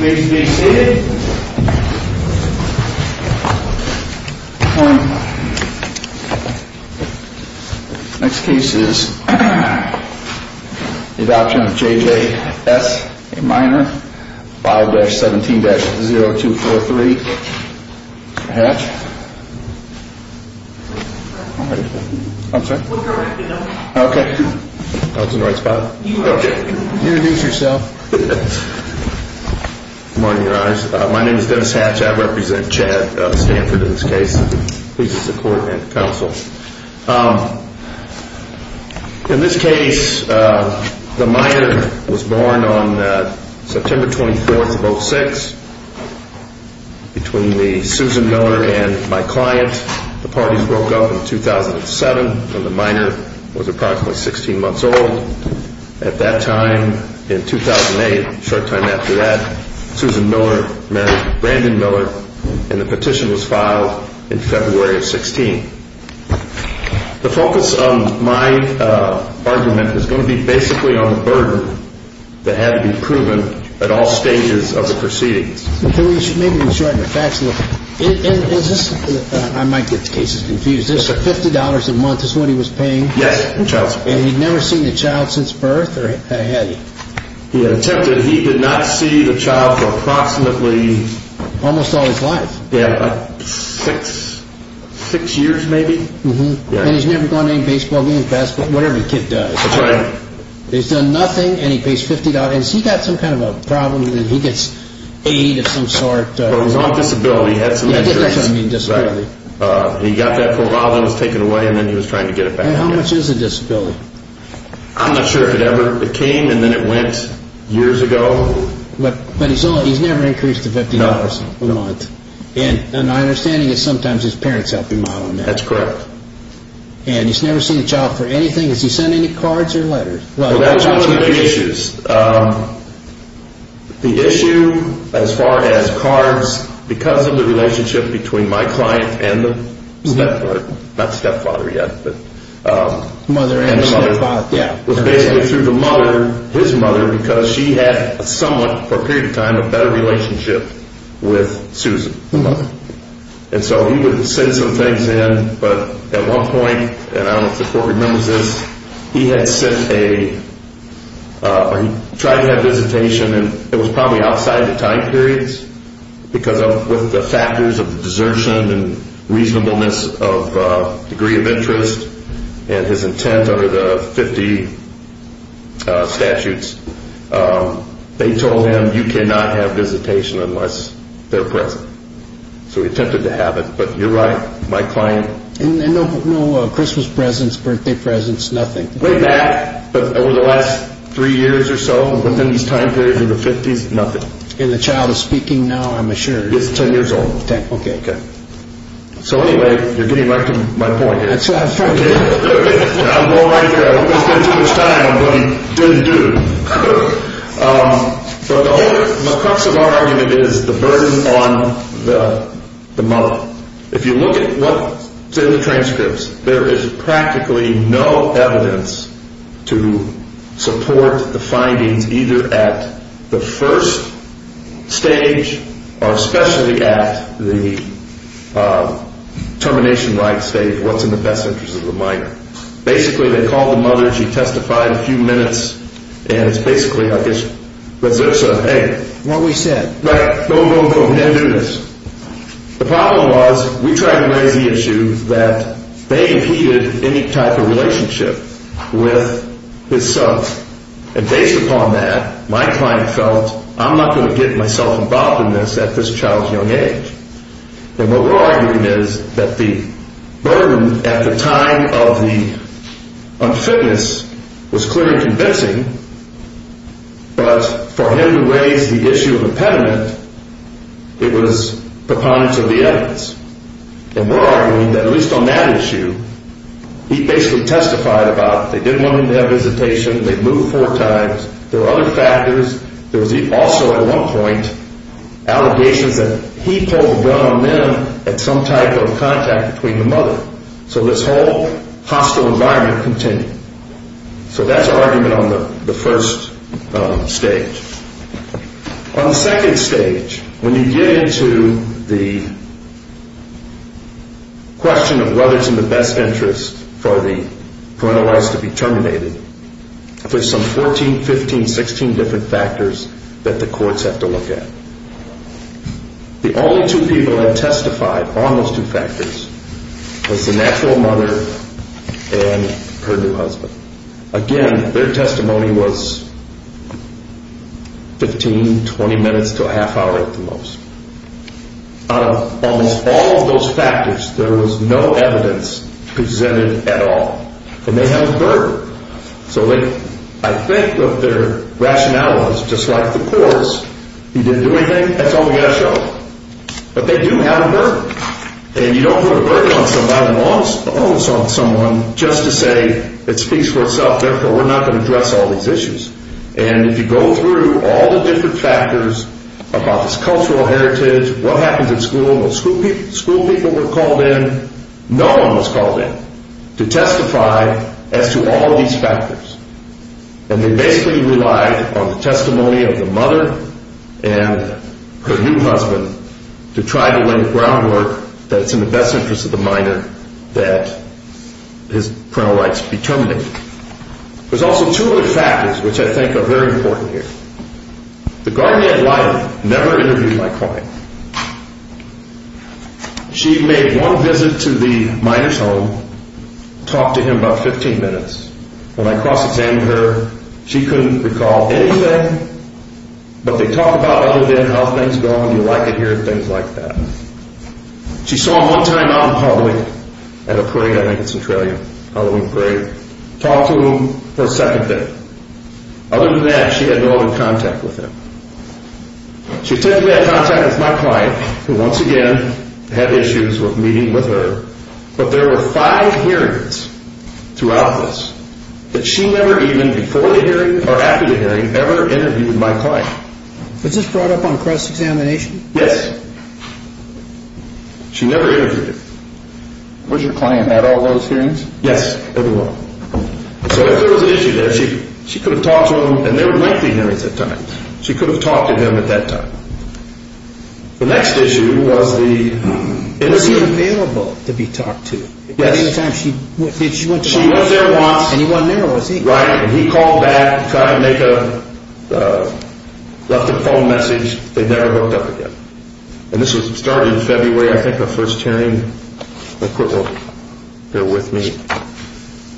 Be seated. Next case is the adoption of J.J.S., a minor, 5-17-0243, Hatch. I'm sorry? Okay. That was the right spot. Okay. Introduce yourself. Good morning, your honors. My name is Dennis Hatch. I represent Chad, Stanford, in this case. Pleased to support and counsel. In this case, the minor was born on September 24th, 2006, between me, Susan Miller, and my client. The parties broke up in 2007, when the minor was approximately 16 months old. At that time, in 2008, a short time after that, Susan Miller passed away. I'm sorry? Okay. That was the right spot. The petition was filed in February of 2016. The focus of my argument is going to be basically on the burden that had to be proven at all stages of the proceedings. Maybe we should shorten the facts a little. I might get the cases confused. This $50 a month is what he was paying. Yes, the child support. And he'd never seen the child since birth? Or had he? He had attempted. But he did not see the child for approximately... Almost all his life. Yeah, six years maybe. And he's never gone to any baseball games, basketball, whatever the kid does. That's right. He's done nothing and he pays $50. Has he got some kind of a problem that he gets aid of some sort? Well, he's on disability. He had some insurance. Disability. He got that for a while, then it was taken away and then he was trying to get it back. And how much is a disability? I'm not sure if it ever became and then it went years ago. But he's never increased the $50 a month. No. And my understanding is sometimes his parents help him out on that. That's correct. And he's never seen a child for anything? Does he send any cards or letters? Well, that's one of the issues. The issue as far as cards, because of the relationship between my client and the stepfather. Not stepfather yet. Mother and stepfather. It was basically through the mother, his mother, because she had somewhat, for a period of time, a better relationship with Susan. The mother. And so he would send some things in, but at one point, and I don't know if the court remembers this, he had sent a, or he tried to have a visitation and it was probably outside of the time periods because of the factors of desertion and reasonableness of degree of interest and his intent under the 50 statutes. They told him, you cannot have visitation unless they're present. So he attempted to have it, but you're right, my client. And no Christmas presents, birthday presents, nothing? Way back, over the last three years or so, within these time periods in the 50s, nothing. And the child is speaking now, I'm assured. It's 10 years old. 10, okay. So anyway, you're getting back to my point here. That's fine. I'm going right through it. I don't want to spend too much time, but I didn't do it. So the crux of our argument is the burden on the mother. If you look at what's in the transcripts, there is practically no evidence to support the findings either at the first stage or especially at the termination-like stage, what's in the best interest of the minor. Basically, they called the mother, she testified a few minutes, and it's basically, I guess, hey. What we said. Right. Go, go, go. We can't do this. The problem was, we tried to raise the issue that they impeded any type of relationship with his son. And based upon that, my client felt, I'm not going to get myself involved in this at this child's young age. And what we're arguing is that the burden at the time of the unfitness was clear and convincing, but for him to raise the issue of impediment, it was preponderance of the evidence. And we're arguing that at least on that issue, he basically testified about they didn't want him to have visitation, they moved four times, there were other factors. There was also at one point allegations that he pulled the gun on them at some type of contact between the mother. So this whole hostile environment continued. So that's our argument on the first stage. On the second stage, when you get into the question of whether it's in the best interest for the parental rights to be terminated, there's some 14, 15, 16 different factors that the courts have to look at. The only two people that testified on those two factors was the natural mother and her new husband. Again, their testimony was 15, 20 minutes to a half hour at the most. Out of almost all of those factors, there was no evidence presented at all. And they have a burden. So I think that their rationale was just like the courts, he didn't do anything, that's all we got to show. But they do have a burden. And you don't put a burden on somebody who owns someone just to say it speaks for itself, therefore we're not going to address all these issues. And if you go through all the different factors about his cultural heritage, what happens at school, school people were called in, no one was called in to testify as to all of these factors. And they basically relied on the testimony of the mother and her new husband to try to lay the groundwork that it's in the best interest of the minor that his parental rights be terminated. There's also two other factors which I think are very important here. The guardian of life never interviewed my client. She made one visit to the minor's home, talked to him about 15 minutes. When I cross-examined her, she couldn't recall anything, but they talked about other than how things go and you like it here and things like that. She saw him one time out in public at a parade, I think it's in Trillium, Halloween parade, talked to him for a second day. Other than that, she had no other contact with him. She technically had contact with my client, who once again had issues with meeting with her, but there were five hearings throughout this that she never even, before the hearing or after the hearing, ever interviewed my client. Was this brought up on cross-examination? Yes. She never interviewed him. Was your client at all those hearings? Yes, everyone. So there was an issue there. She could have talked to him, and there were 19 hearings at the time. She could have talked to him at that time. The next issue was the interview. Was he available to be talked to? Yes. Did she want to talk to him? She was there once. And he wasn't there, was he? Right, and he called back, tried to make a, left a phone message. They never hooked up again. And this was started in February, I think, the first hearing. Let me look real quick. They're with me.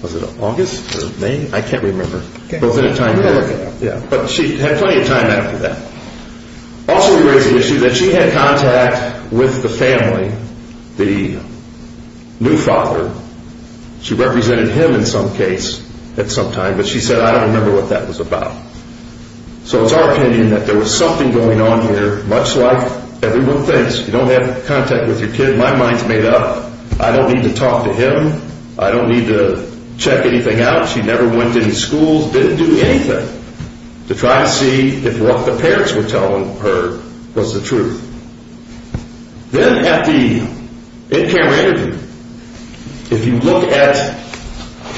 Was it August or May? I can't remember. Okay. But she had plenty of time after that. Also, we raised the issue that she had contact with the family, the new father. She represented him in some case at some time, but she said, I don't remember what that was about. So it's our opinion that there was something going on here, much like everyone thinks. You don't have contact with your kid. My mind's made up. I don't need to talk to him. I don't need to check anything out. She never went to any schools, didn't do anything, to try to see if what the parents were telling her was the truth. Then at the in-camera interview, if you look at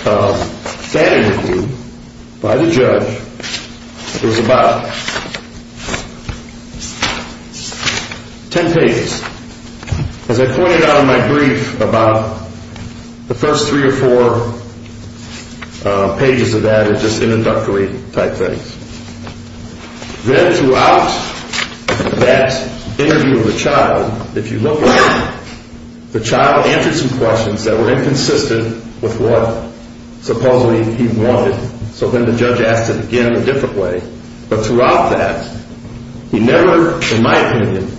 that interview by the judge, it was about ten pages. As I pointed out in my brief, about the first three or four pages of that are just introductory type things. Then throughout that interview of the child, if you look at it, the child answered some questions that were inconsistent with what supposedly he wanted. So then the judge asked it again a different way. But throughout that, he never, in my opinion,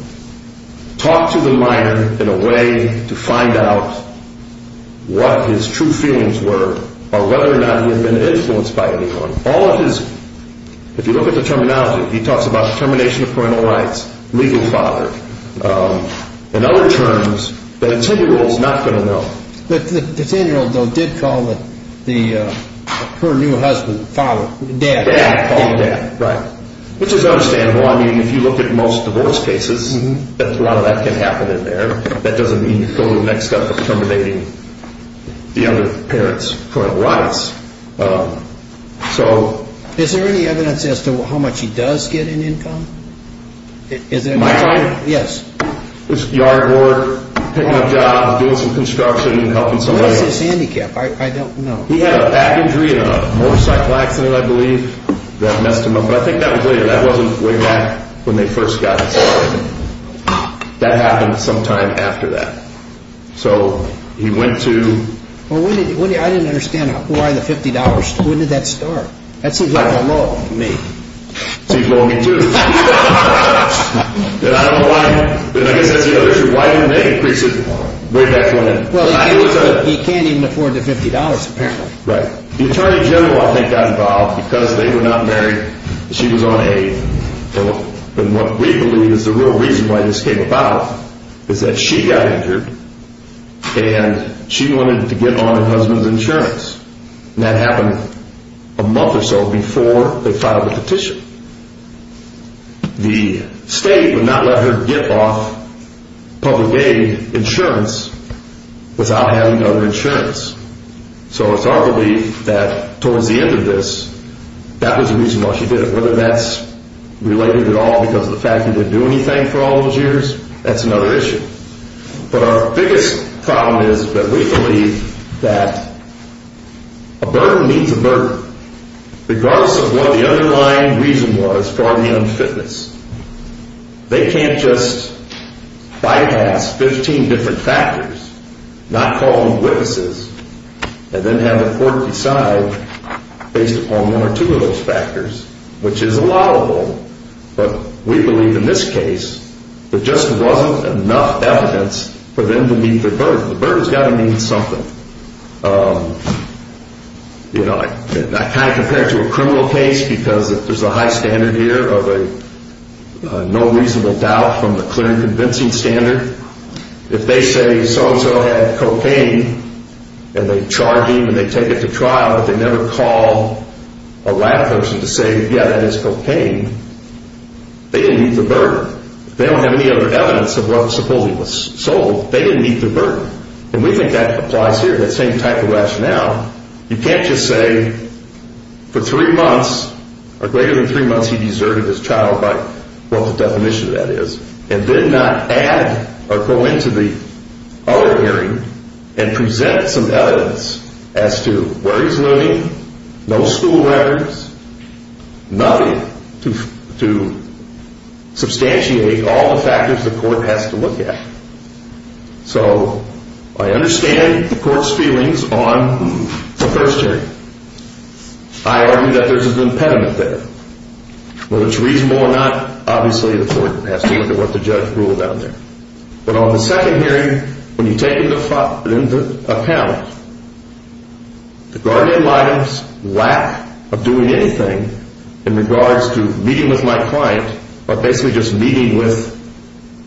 talked to the minor in a way to find out what his true feelings were or whether or not he had been influenced by anyone. So all of his, if you look at the terminology, he talks about termination of parental rights, legal father, and other terms that a ten-year-old's not going to know. The ten-year-old, though, did call her new husband father, dad. Dad called him dad, right, which is understandable. I mean, if you look at most divorce cases, a lot of that can happen in there. That doesn't mean you fill in the next step of terminating the other parent's parental rights. So... Is there any evidence as to how much he does get in income? My client was yard work, picking up jobs, doing some construction and helping somebody. What is his handicap? I don't know. He had a back injury in a motorcycle accident, I believe, that messed him up. But I think that was later. That wasn't way back when they first got him started. That happened sometime after that. So he went to... Well, I didn't understand why the $50, when did that start? That seems like a low on me. Seems low on me, too. And I don't know why, and I guess that's the other issue, why didn't they increase it way back when? Well, he can't even afford the $50, apparently. Right. The attorney general, I think, got involved because they were not married, and she was on aid. And what we believe is the real reason why this came about is that she got injured, and she wanted to get on her husband's insurance. And that happened a month or so before they filed the petition. The state would not let her get off public aid insurance without having other insurance. So it's our belief that towards the end of this, that was the reason why she did it. Whether that's related at all because of the fact that he didn't do anything for all those years, that's another issue. But our biggest problem is that we believe that a burden means a burden, regardless of what the underlying reason was for the unfitness. They can't just bypass 15 different factors, not call them witnesses, and then have a court decide based upon one or two of those factors, which is allowable. But we believe in this case, there just wasn't enough evidence for them to meet their burden. The burden's got to mean something. You know, I kind of compare it to a criminal case because there's a high standard here of a no reasonable doubt from the clear and convincing standard. If they say so-and-so had cocaine, and they charge him and they take it to trial, but they never call a lab person to say, yeah, that is cocaine, they didn't meet the burden. They don't have any other evidence of what supposedly was sold. They didn't meet the burden. And we think that applies here, that same type of rationale. You can't just say for three months or greater than three months he deserted his child, by what the definition of that is, and did not add or go into the other hearing and present some evidence as to where he's living, no school records, nothing to substantiate all the factors the court has to look at. So I understand the court's feelings on the first hearing. I argue that there's an impediment there. Whether it's reasonable or not, obviously the court has to look at what the judge ruled on there. But on the second hearing, when you take into account the guardian's lack of doing anything in regards to meeting with my client, or basically just meeting with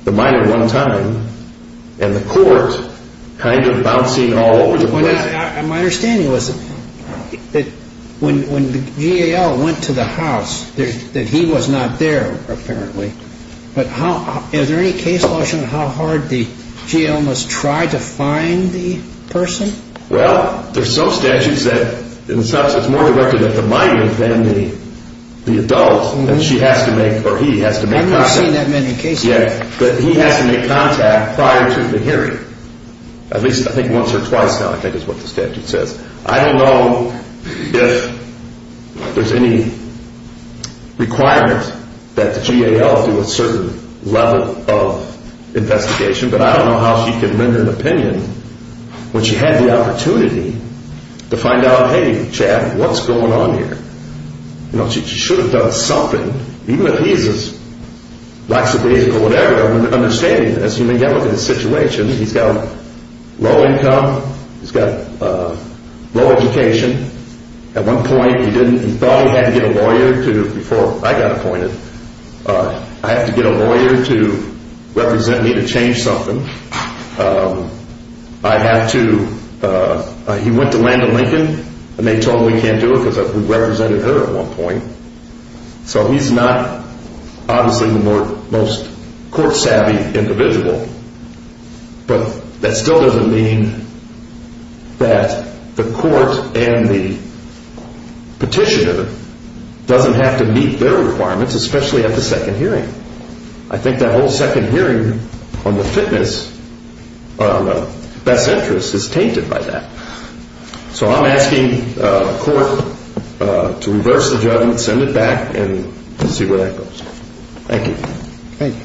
the minor one time, and the court kind of bouncing all over the place. My understanding was that when the GAL went to the house, that he was not there apparently. But is there any case law showing how hard the GAL must try to find the person? Well, there's some statutes that it's more directed at the minor than the adult that she has to make, or he has to make contact. I've not seen that many cases. Yeah, but he has to make contact prior to the hearing. At least I think once or twice now I think is what the statute says. I don't know if there's any requirement that the GAL do a certain level of investigation, but I don't know how she can render an opinion when she had the opportunity to find out, hey, Chad, what's going on here? She should have done something. Even if he's as lackadaisical or whatever, understanding this, you can look at his situation. He's got low income. He's got low education. At one point he thought he had to get a lawyer to, before I got appointed, I had to get a lawyer to represent me to change something. I had to, he went to Landon Lincoln and they told him he can't do it because we represented her at one point. So he's not obviously the most court savvy individual, but that still doesn't mean that the court and the petitioner doesn't have to meet their requirements. Especially at the second hearing. I think that whole second hearing on the fitness, best interest, is tainted by that. So I'm asking the court to reverse the judgment, send it back, and see where that goes. Thank you. Thank you.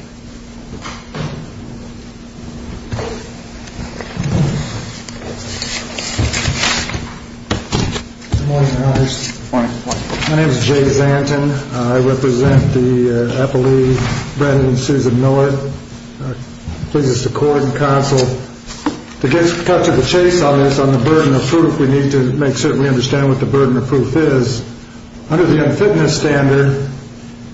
Good morning, Your Honors. Good morning. My name is Jay Zanton. I represent the appellee, Brendan and Susan Millett. Pleases the court and counsel. To get cut to the chase on this, on the burden of proof, we need to make certain we understand what the burden of proof is. Under the unfitness standard,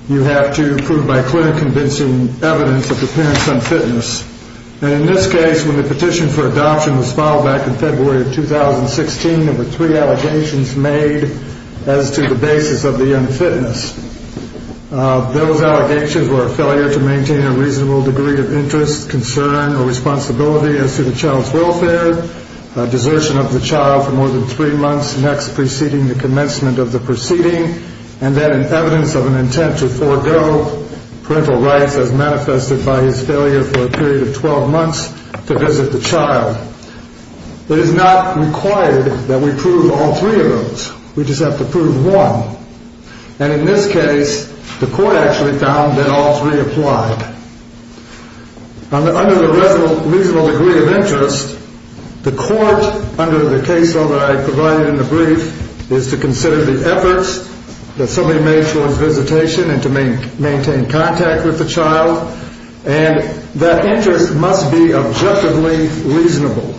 you have to prove by clinic convincing evidence of the parent's unfitness. And in this case, when the petition for adoption was filed back in February of 2016, there were three allegations made as to the basis of the unfitness. Those allegations were a failure to maintain a reasonable degree of interest, concern, or responsibility as to the child's welfare, desertion of the child for more than three months next preceding the commencement of the proceeding, and then an evidence of an intent to forego parental rights as manifested by his failure for a period of 12 months to visit the child. It is not required that we prove all three of those. We just have to prove one. And in this case, the court actually found that all three applied. Under the reasonable degree of interest, the court, under the case law that I provided in the brief, is to consider the efforts that somebody made towards visitation and to maintain contact with the child, and that interest must be objectively reasonable.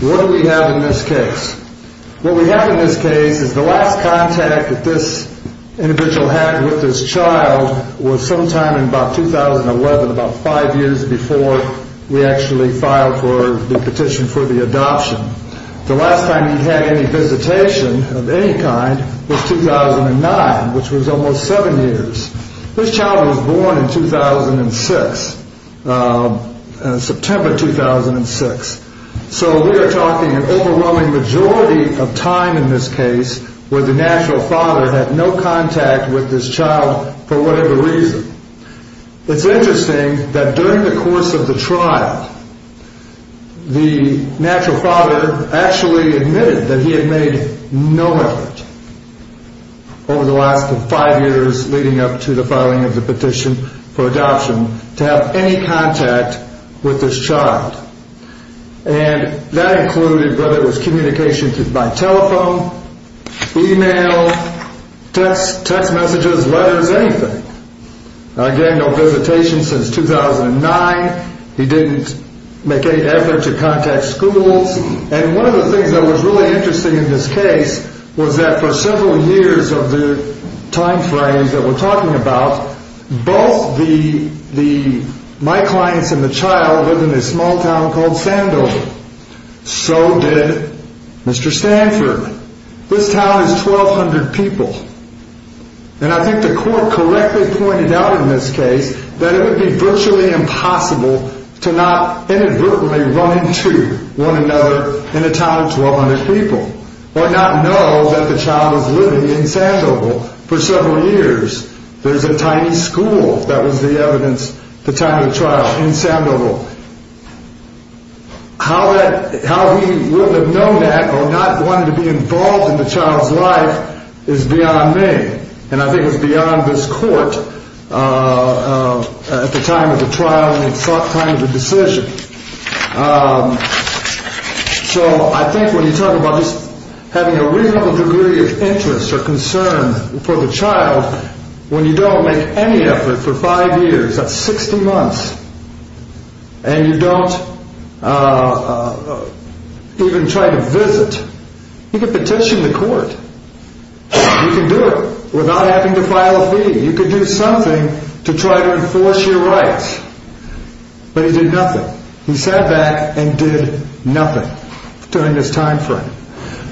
What do we have in this case? What we have in this case is the last contact that this individual had with this child was sometime in about 2011, about five years before we actually filed for the petition for the adoption. The last time he had any visitation of any kind was 2009, which was almost seven years. This child was born in 2006, September 2006. So we are talking an overwhelming majority of time in this case where the natural father had no contact with this child for whatever reason. It's interesting that during the course of the trial, the natural father actually admitted that he had made no effort over the last five years leading up to the filing of the petition for adoption to have any contact with this child. And that included whether it was communication by telephone, e-mail, text messages, letters, anything. Again, no visitation since 2009. He didn't make any effort to contact schools. And one of the things that was really interesting in this case was that for several years of the time frame that we're talking about, both my clients and the child lived in a small town called Sandoval. So did Mr. Stanford. This town is 1,200 people. And I think the court correctly pointed out in this case that it would be virtually impossible to not inadvertently run into one another in a town of 1,200 people or not know that the child was living in Sandoval for several years. There's a tiny school. That was the evidence at the time of the trial in Sandoval. How he would have known that or not wanted to be involved in the child's life is beyond me. And I think it's beyond this court at the time of the trial and the time of the decision. So I think when you talk about just having a reasonable degree of interest or concern for the child, when you don't make any effort for five years, that's 60 months, and you don't even try to visit, you can petition the court. You can do it without having to file a fee. You can do something to try to enforce your rights. But he did nothing. He sat back and did nothing during this time frame.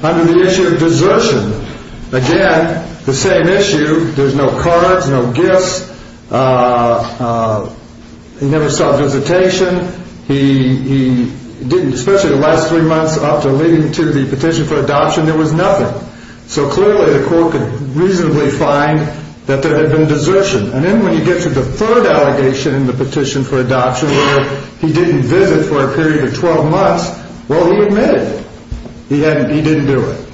Under the issue of desertion, again, the same issue. There's no cards, no gifts. He never sought visitation. He didn't, especially the last three months after leading to the petition for adoption, there was nothing. So clearly the court could reasonably find that there had been desertion. And then when you get to the third allegation in the petition for adoption where he didn't visit for a period of 12 months, well, he admitted he didn't do it.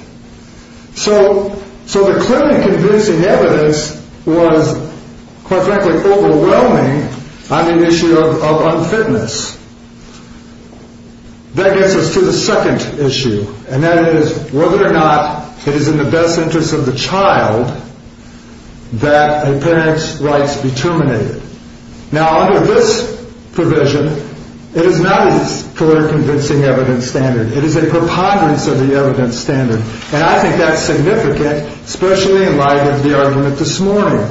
So the clearly convincing evidence was, quite frankly, overwhelming on the issue of unfitness. That gets us to the second issue, and that is whether or not it is in the best interest of the child that a parent's rights be terminated. Now, under this provision, it is not a clearly convincing evidence standard. It is a preponderance of the evidence standard, and I think that's significant, especially in light of the argument this morning.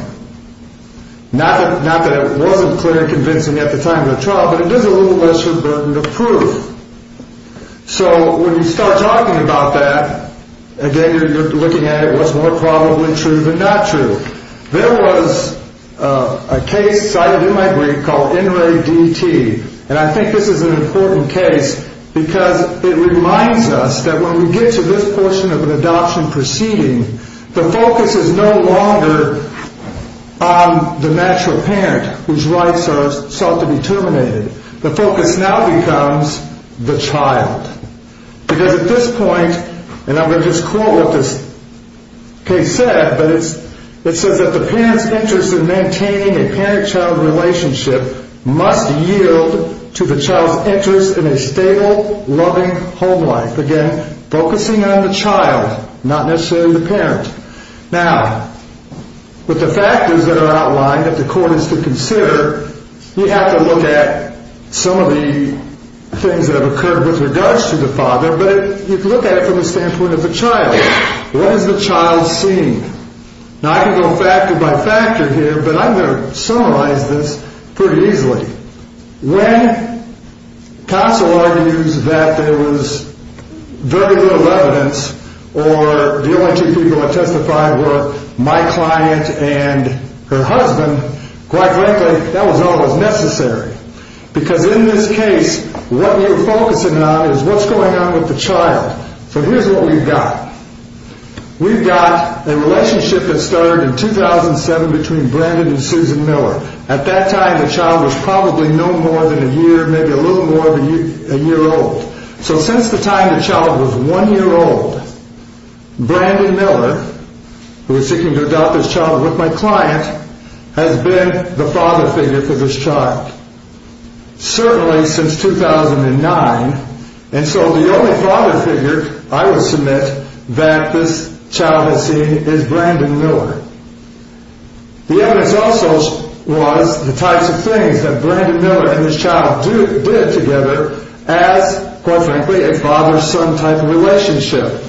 Not that it wasn't clear and convincing at the time of the trial, but it is a little lesser burden of proof. So when you start talking about that, again, you're looking at it was more probably true than not true. There was a case cited in my brief called NREDT, and I think this is an important case because it reminds us that when we get to this portion of an adoption proceeding, the focus is no longer on the natural parent whose rights are sought to be terminated. The focus now becomes the child, because at this point, and I'm going to just quote what this case said, but it says that the parent's interest in maintaining a parent-child relationship must yield to the child's interest in a stable, loving home life. Again, focusing on the child, not necessarily the parent. Now, with the factors that are outlined that the court is to consider, you have to look at some of the things that have occurred with regards to the father, but you can look at it from the standpoint of the child. What has the child seen? Now, I can go factor by factor here, but I'm going to summarize this pretty easily. When counsel argues that there was very little evidence or the only two people that testified were my client and her husband, quite frankly, that was always necessary, because in this case, what you're focusing on is what's going on with the child. So here's what we've got. We've got a relationship that started in 2007 between Brandon and Susan Miller. At that time, the child was probably no more than a year, maybe a little more than a year old. So since the time the child was one year old, Brandon Miller, who was seeking to adopt this child with my client, has been the father figure for this child, certainly since 2009, and so the only father figure I would submit that this child has seen is Brandon Miller. The evidence also was the types of things that Brandon Miller and his child did together as, quite frankly, a father-son type of relationship.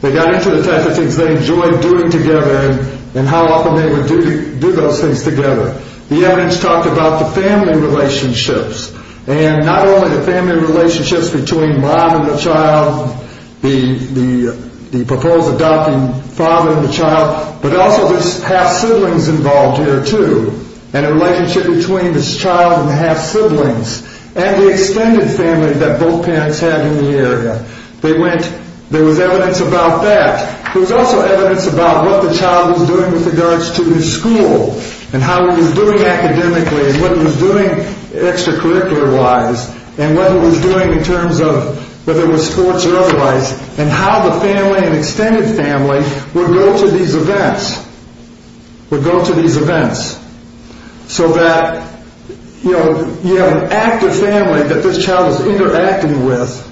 They got into the types of things they enjoyed doing together and how often they would do those things together. The evidence talked about the family relationships, and not only the family relationships between mom and the child, the proposed adopting father and the child, but also there's half-siblings involved here, too, and a relationship between this child and the half-siblings and the extended family that both parents have in the area. There was evidence about that. There was also evidence about what the child was doing with regards to his school and how he was doing academically and what he was doing extracurricular-wise and what he was doing in terms of whether it was sports or otherwise and how the family and extended family would go to these events, would go to these events, so that you have an active family that this child is interacting with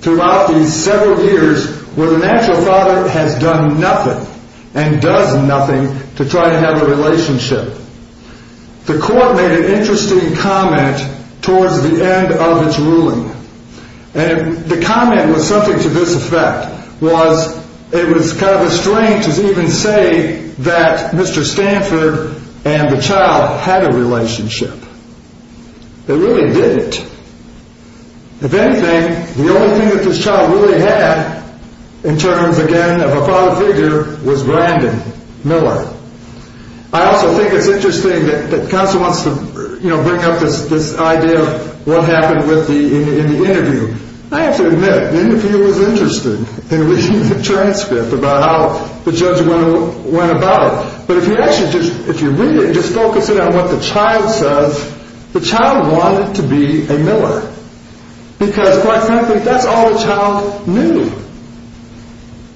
throughout these several years where the natural father has done nothing and does nothing to try to have a relationship. The court made an interesting comment towards the end of its ruling, and the comment was something to this effect, was it was kind of a strange to even say that Mr. Stanford and the child had a relationship. They really didn't. If anything, the only thing that this child really had in terms, again, of a father figure was Brandon Miller. I also think it's interesting that Counsel wants to bring up this idea of what happened in the interview. I have to admit, the interviewer was interested in reading the transcript about how the judgment went about, but if you read it and just focus in on what the child says, the child wanted to be a Miller because, quite frankly, that's all the child knew.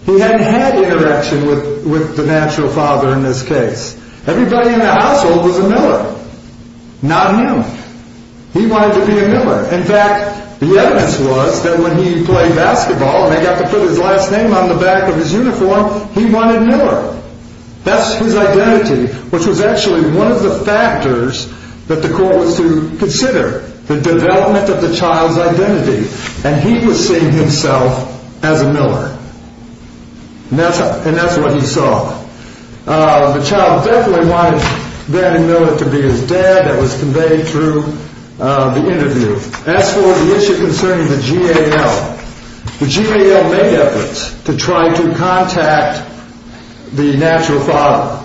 He hadn't had interaction with the natural father in this case. Everybody in the household was a Miller, not him. He wanted to be a Miller. In fact, the evidence was that when he played basketball and they got to put his last name on the back of his uniform, he wanted Miller. That's his identity, which was actually one of the factors that the court was to consider, the development of the child's identity. And he was seeing himself as a Miller, and that's what he saw. The child definitely wanted Brandon Miller to be his dad. That was conveyed through the interview. As for the issue concerning the GAL, the GAL made efforts to try to contact the natural father.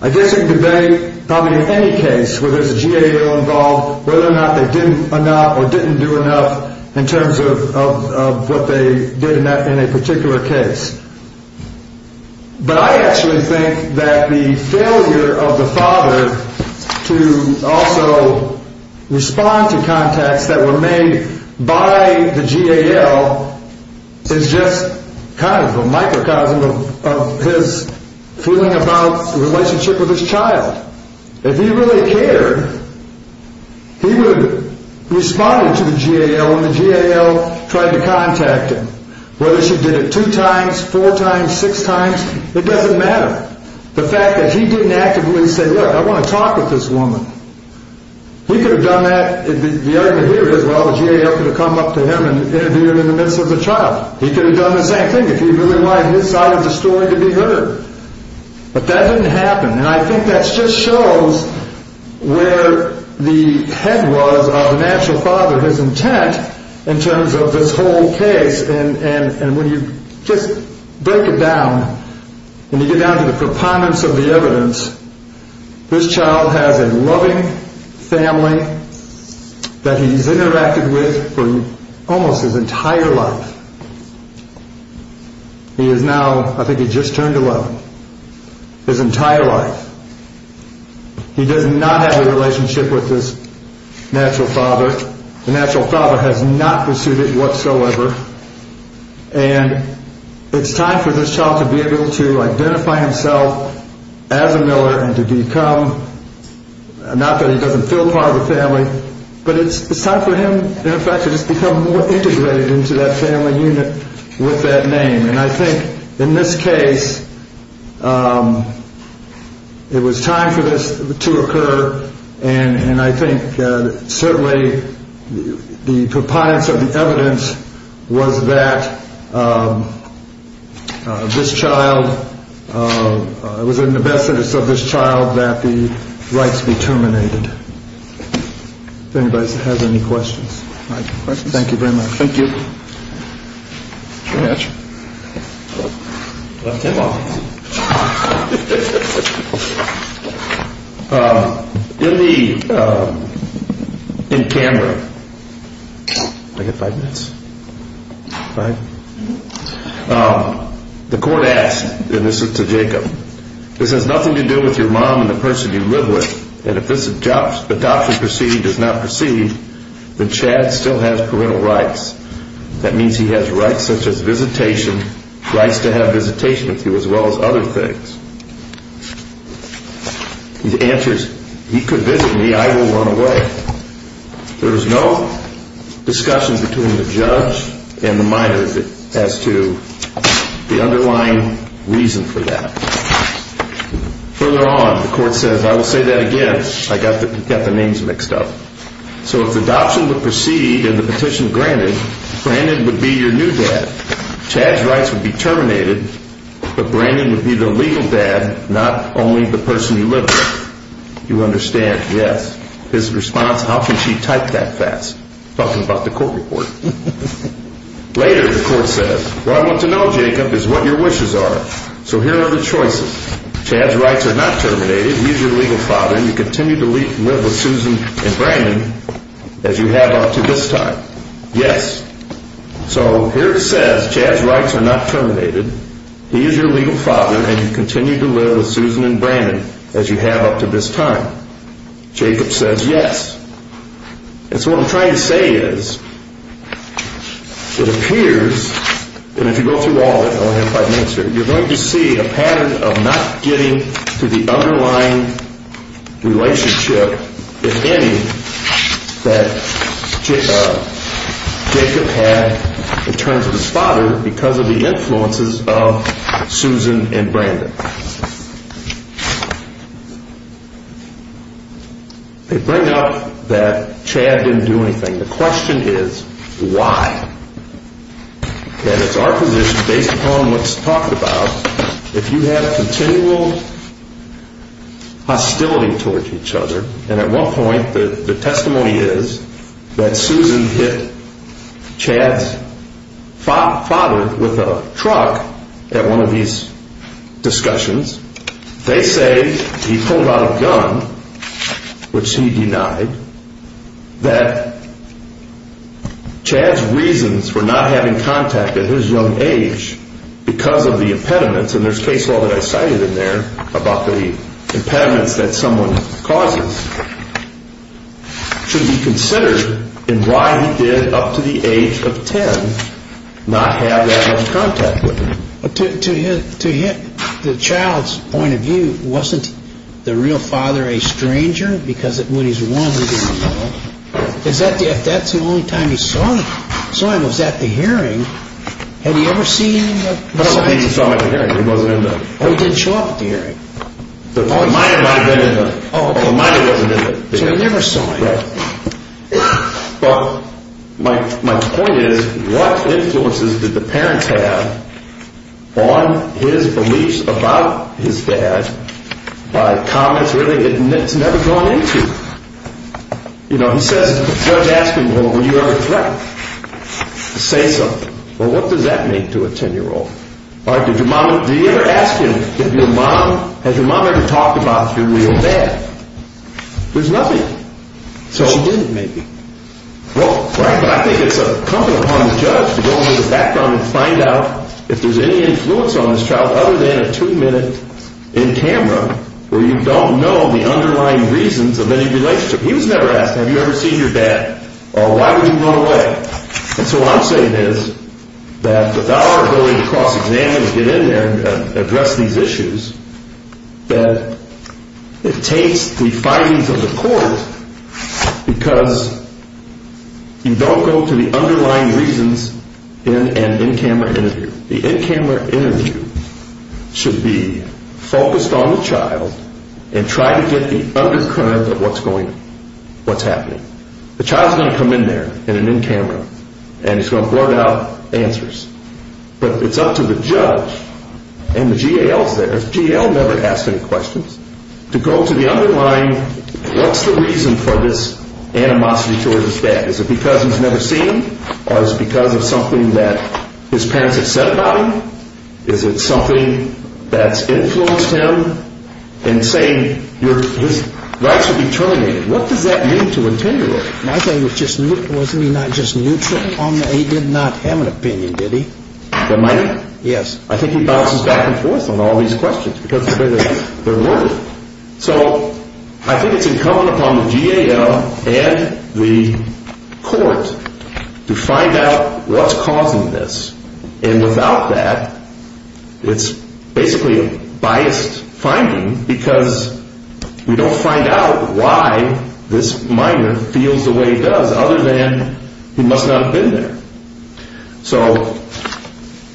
I guess you can debate probably any case where there's a GAL involved, whether or not they did enough or didn't do enough in terms of what they did in a particular case. But I actually think that the failure of the father to also respond to contacts that were made by the GAL is just kind of a microcosm of his feeling about the relationship with his child. If he really cared, he would have responded to the GAL when the GAL tried to contact him. Whether she did it two times, four times, six times, it doesn't matter. The fact that he didn't actively say, look, I want to talk with this woman. He could have done that. The argument here is, well, the GAL could have come up to him and interviewed him in the midst of the trial. He could have done the same thing if he really wanted his side of the story to be heard. But that didn't happen, and I think that just shows where the head was of the natural father, his intent in terms of this whole case. And when you just break it down, when you get down to the proponents of the evidence, this child has a loving family that he's interacted with for almost his entire life. He is now, I think he just turned 11. His entire life. He does not have a relationship with his natural father. The natural father has not pursued it whatsoever. And it's time for this child to be able to identify himself as a Miller and to become, not that he doesn't feel part of the family, but it's time for him, in effect, to just become more integrated into that family unit with that name. And I think in this case, it was time for this to occur, and I think certainly the proponents of the evidence was that this child, it was in the best interest of this child that the rights be terminated. If anybody has any questions. Thank you very much. Thank you. Mr. Hatch? I left him off. In the, in Canberra, I got five minutes? Five? The court asked, and this is to Jacob, this has nothing to do with your mom and the person you live with, and if this adoption proceeding does not proceed, then Chad still has parental rights. That means he has rights such as visitation, rights to have visitation with you, as well as other things. He answers, he could visit me. I will run away. There is no discussion between the judge and the minor as to the underlying reason for that. Further on, the court says, I will say that again. I got the names mixed up. So if the adoption would proceed and the petition granted, Brandon would be your new dad. Chad's rights would be terminated, but Brandon would be the legal dad, not only the person you live with. You understand, yes. His response, how can she type that fast? Talking about the court report. Later, the court says, what I want to know, Jacob, is what your wishes are. So here are the choices. Chad's rights are not terminated. He is your legal father, and you continue to live with Susan and Brandon as you have up to this time. Yes. So here it says, Chad's rights are not terminated. He is your legal father, and you continue to live with Susan and Brandon as you have up to this time. Jacob says yes. And so what I'm trying to say is, it appears, and if you go through all of it, I only have five minutes here, you're going to see a pattern of not getting to the underlying relationship, if any, that Jacob had in terms of his father because of the influences of Susan and Brandon. They bring up that Chad didn't do anything. The question is, why? And it's our position, based upon what's talked about, if you have continual hostility towards each other, and at one point the testimony is that Susan hit Chad's father with a truck at one of these discussions. They say he pulled out a gun, which he denied, that Chad's reasons for not having contact at his young age because of the impediments, and there's case law that I cited in there about the impediments that someone causes, should be considered in why he did, up to the age of 10, not have that much contact with him. To hit the child's point of view, wasn't the real father a stranger? Because when he's one, he didn't know. If that's the only time he saw him, was that the hearing? Had he ever seen him? I don't think he saw him at the hearing. Oh, he didn't show up at the hearing. Oh, he might have. So he never saw him. But my point is, what influences did the parents have on his beliefs about his dad by comments really it's never drawn into? You know, he says, the judge asked him, well, were you ever threatened to say something? Well, what does that mean to a 10-year-old? Did your mom ever ask him, has your mom ever talked about your real dad? There's nothing. She didn't, maybe. Well, I think it's incumbent upon the judge to go into the background and find out if there's any influence on this child other than a two-minute in camera where you don't know the underlying reasons of any relationship. He was never asked, have you ever seen your dad, or why would you run away? And so what I'm saying is that with our ability to cross-examine and get in there and address these issues, that it takes the findings of the court because you don't go to the underlying reasons in an in-camera interview. The in-camera interview should be focused on the child and try to get the undercurrent of what's going on, what's happening. The child's going to come in there in an in-camera, and he's going to blurt out answers. But it's up to the judge, and the GAL's there. The GAL never asked any questions. To go to the underlying, what's the reason for this animosity towards his dad? Is it because he's never seen him, or is it because of something that his parents have said about him? Is it something that's influenced him in saying his rights would be terminated? What does that mean to a 10-year-old? My thing was just, wasn't he not just neutral on that? He did not have an opinion, did he? The minor? Yes. I think he bounces back and forth on all these questions because of the way they're worded. So I think it's incumbent upon the GAL and the court to find out what's causing this. And without that, it's basically a biased finding because we don't find out why this minor feels the way he does, other than he must not have been there. So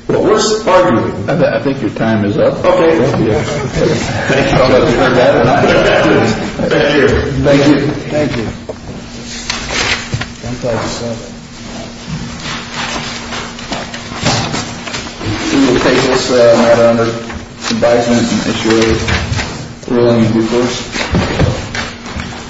what we're arguing. I think your time is up. Okay. Thank you. Thank you. Thank you. Thank you. Thank you. Thank you.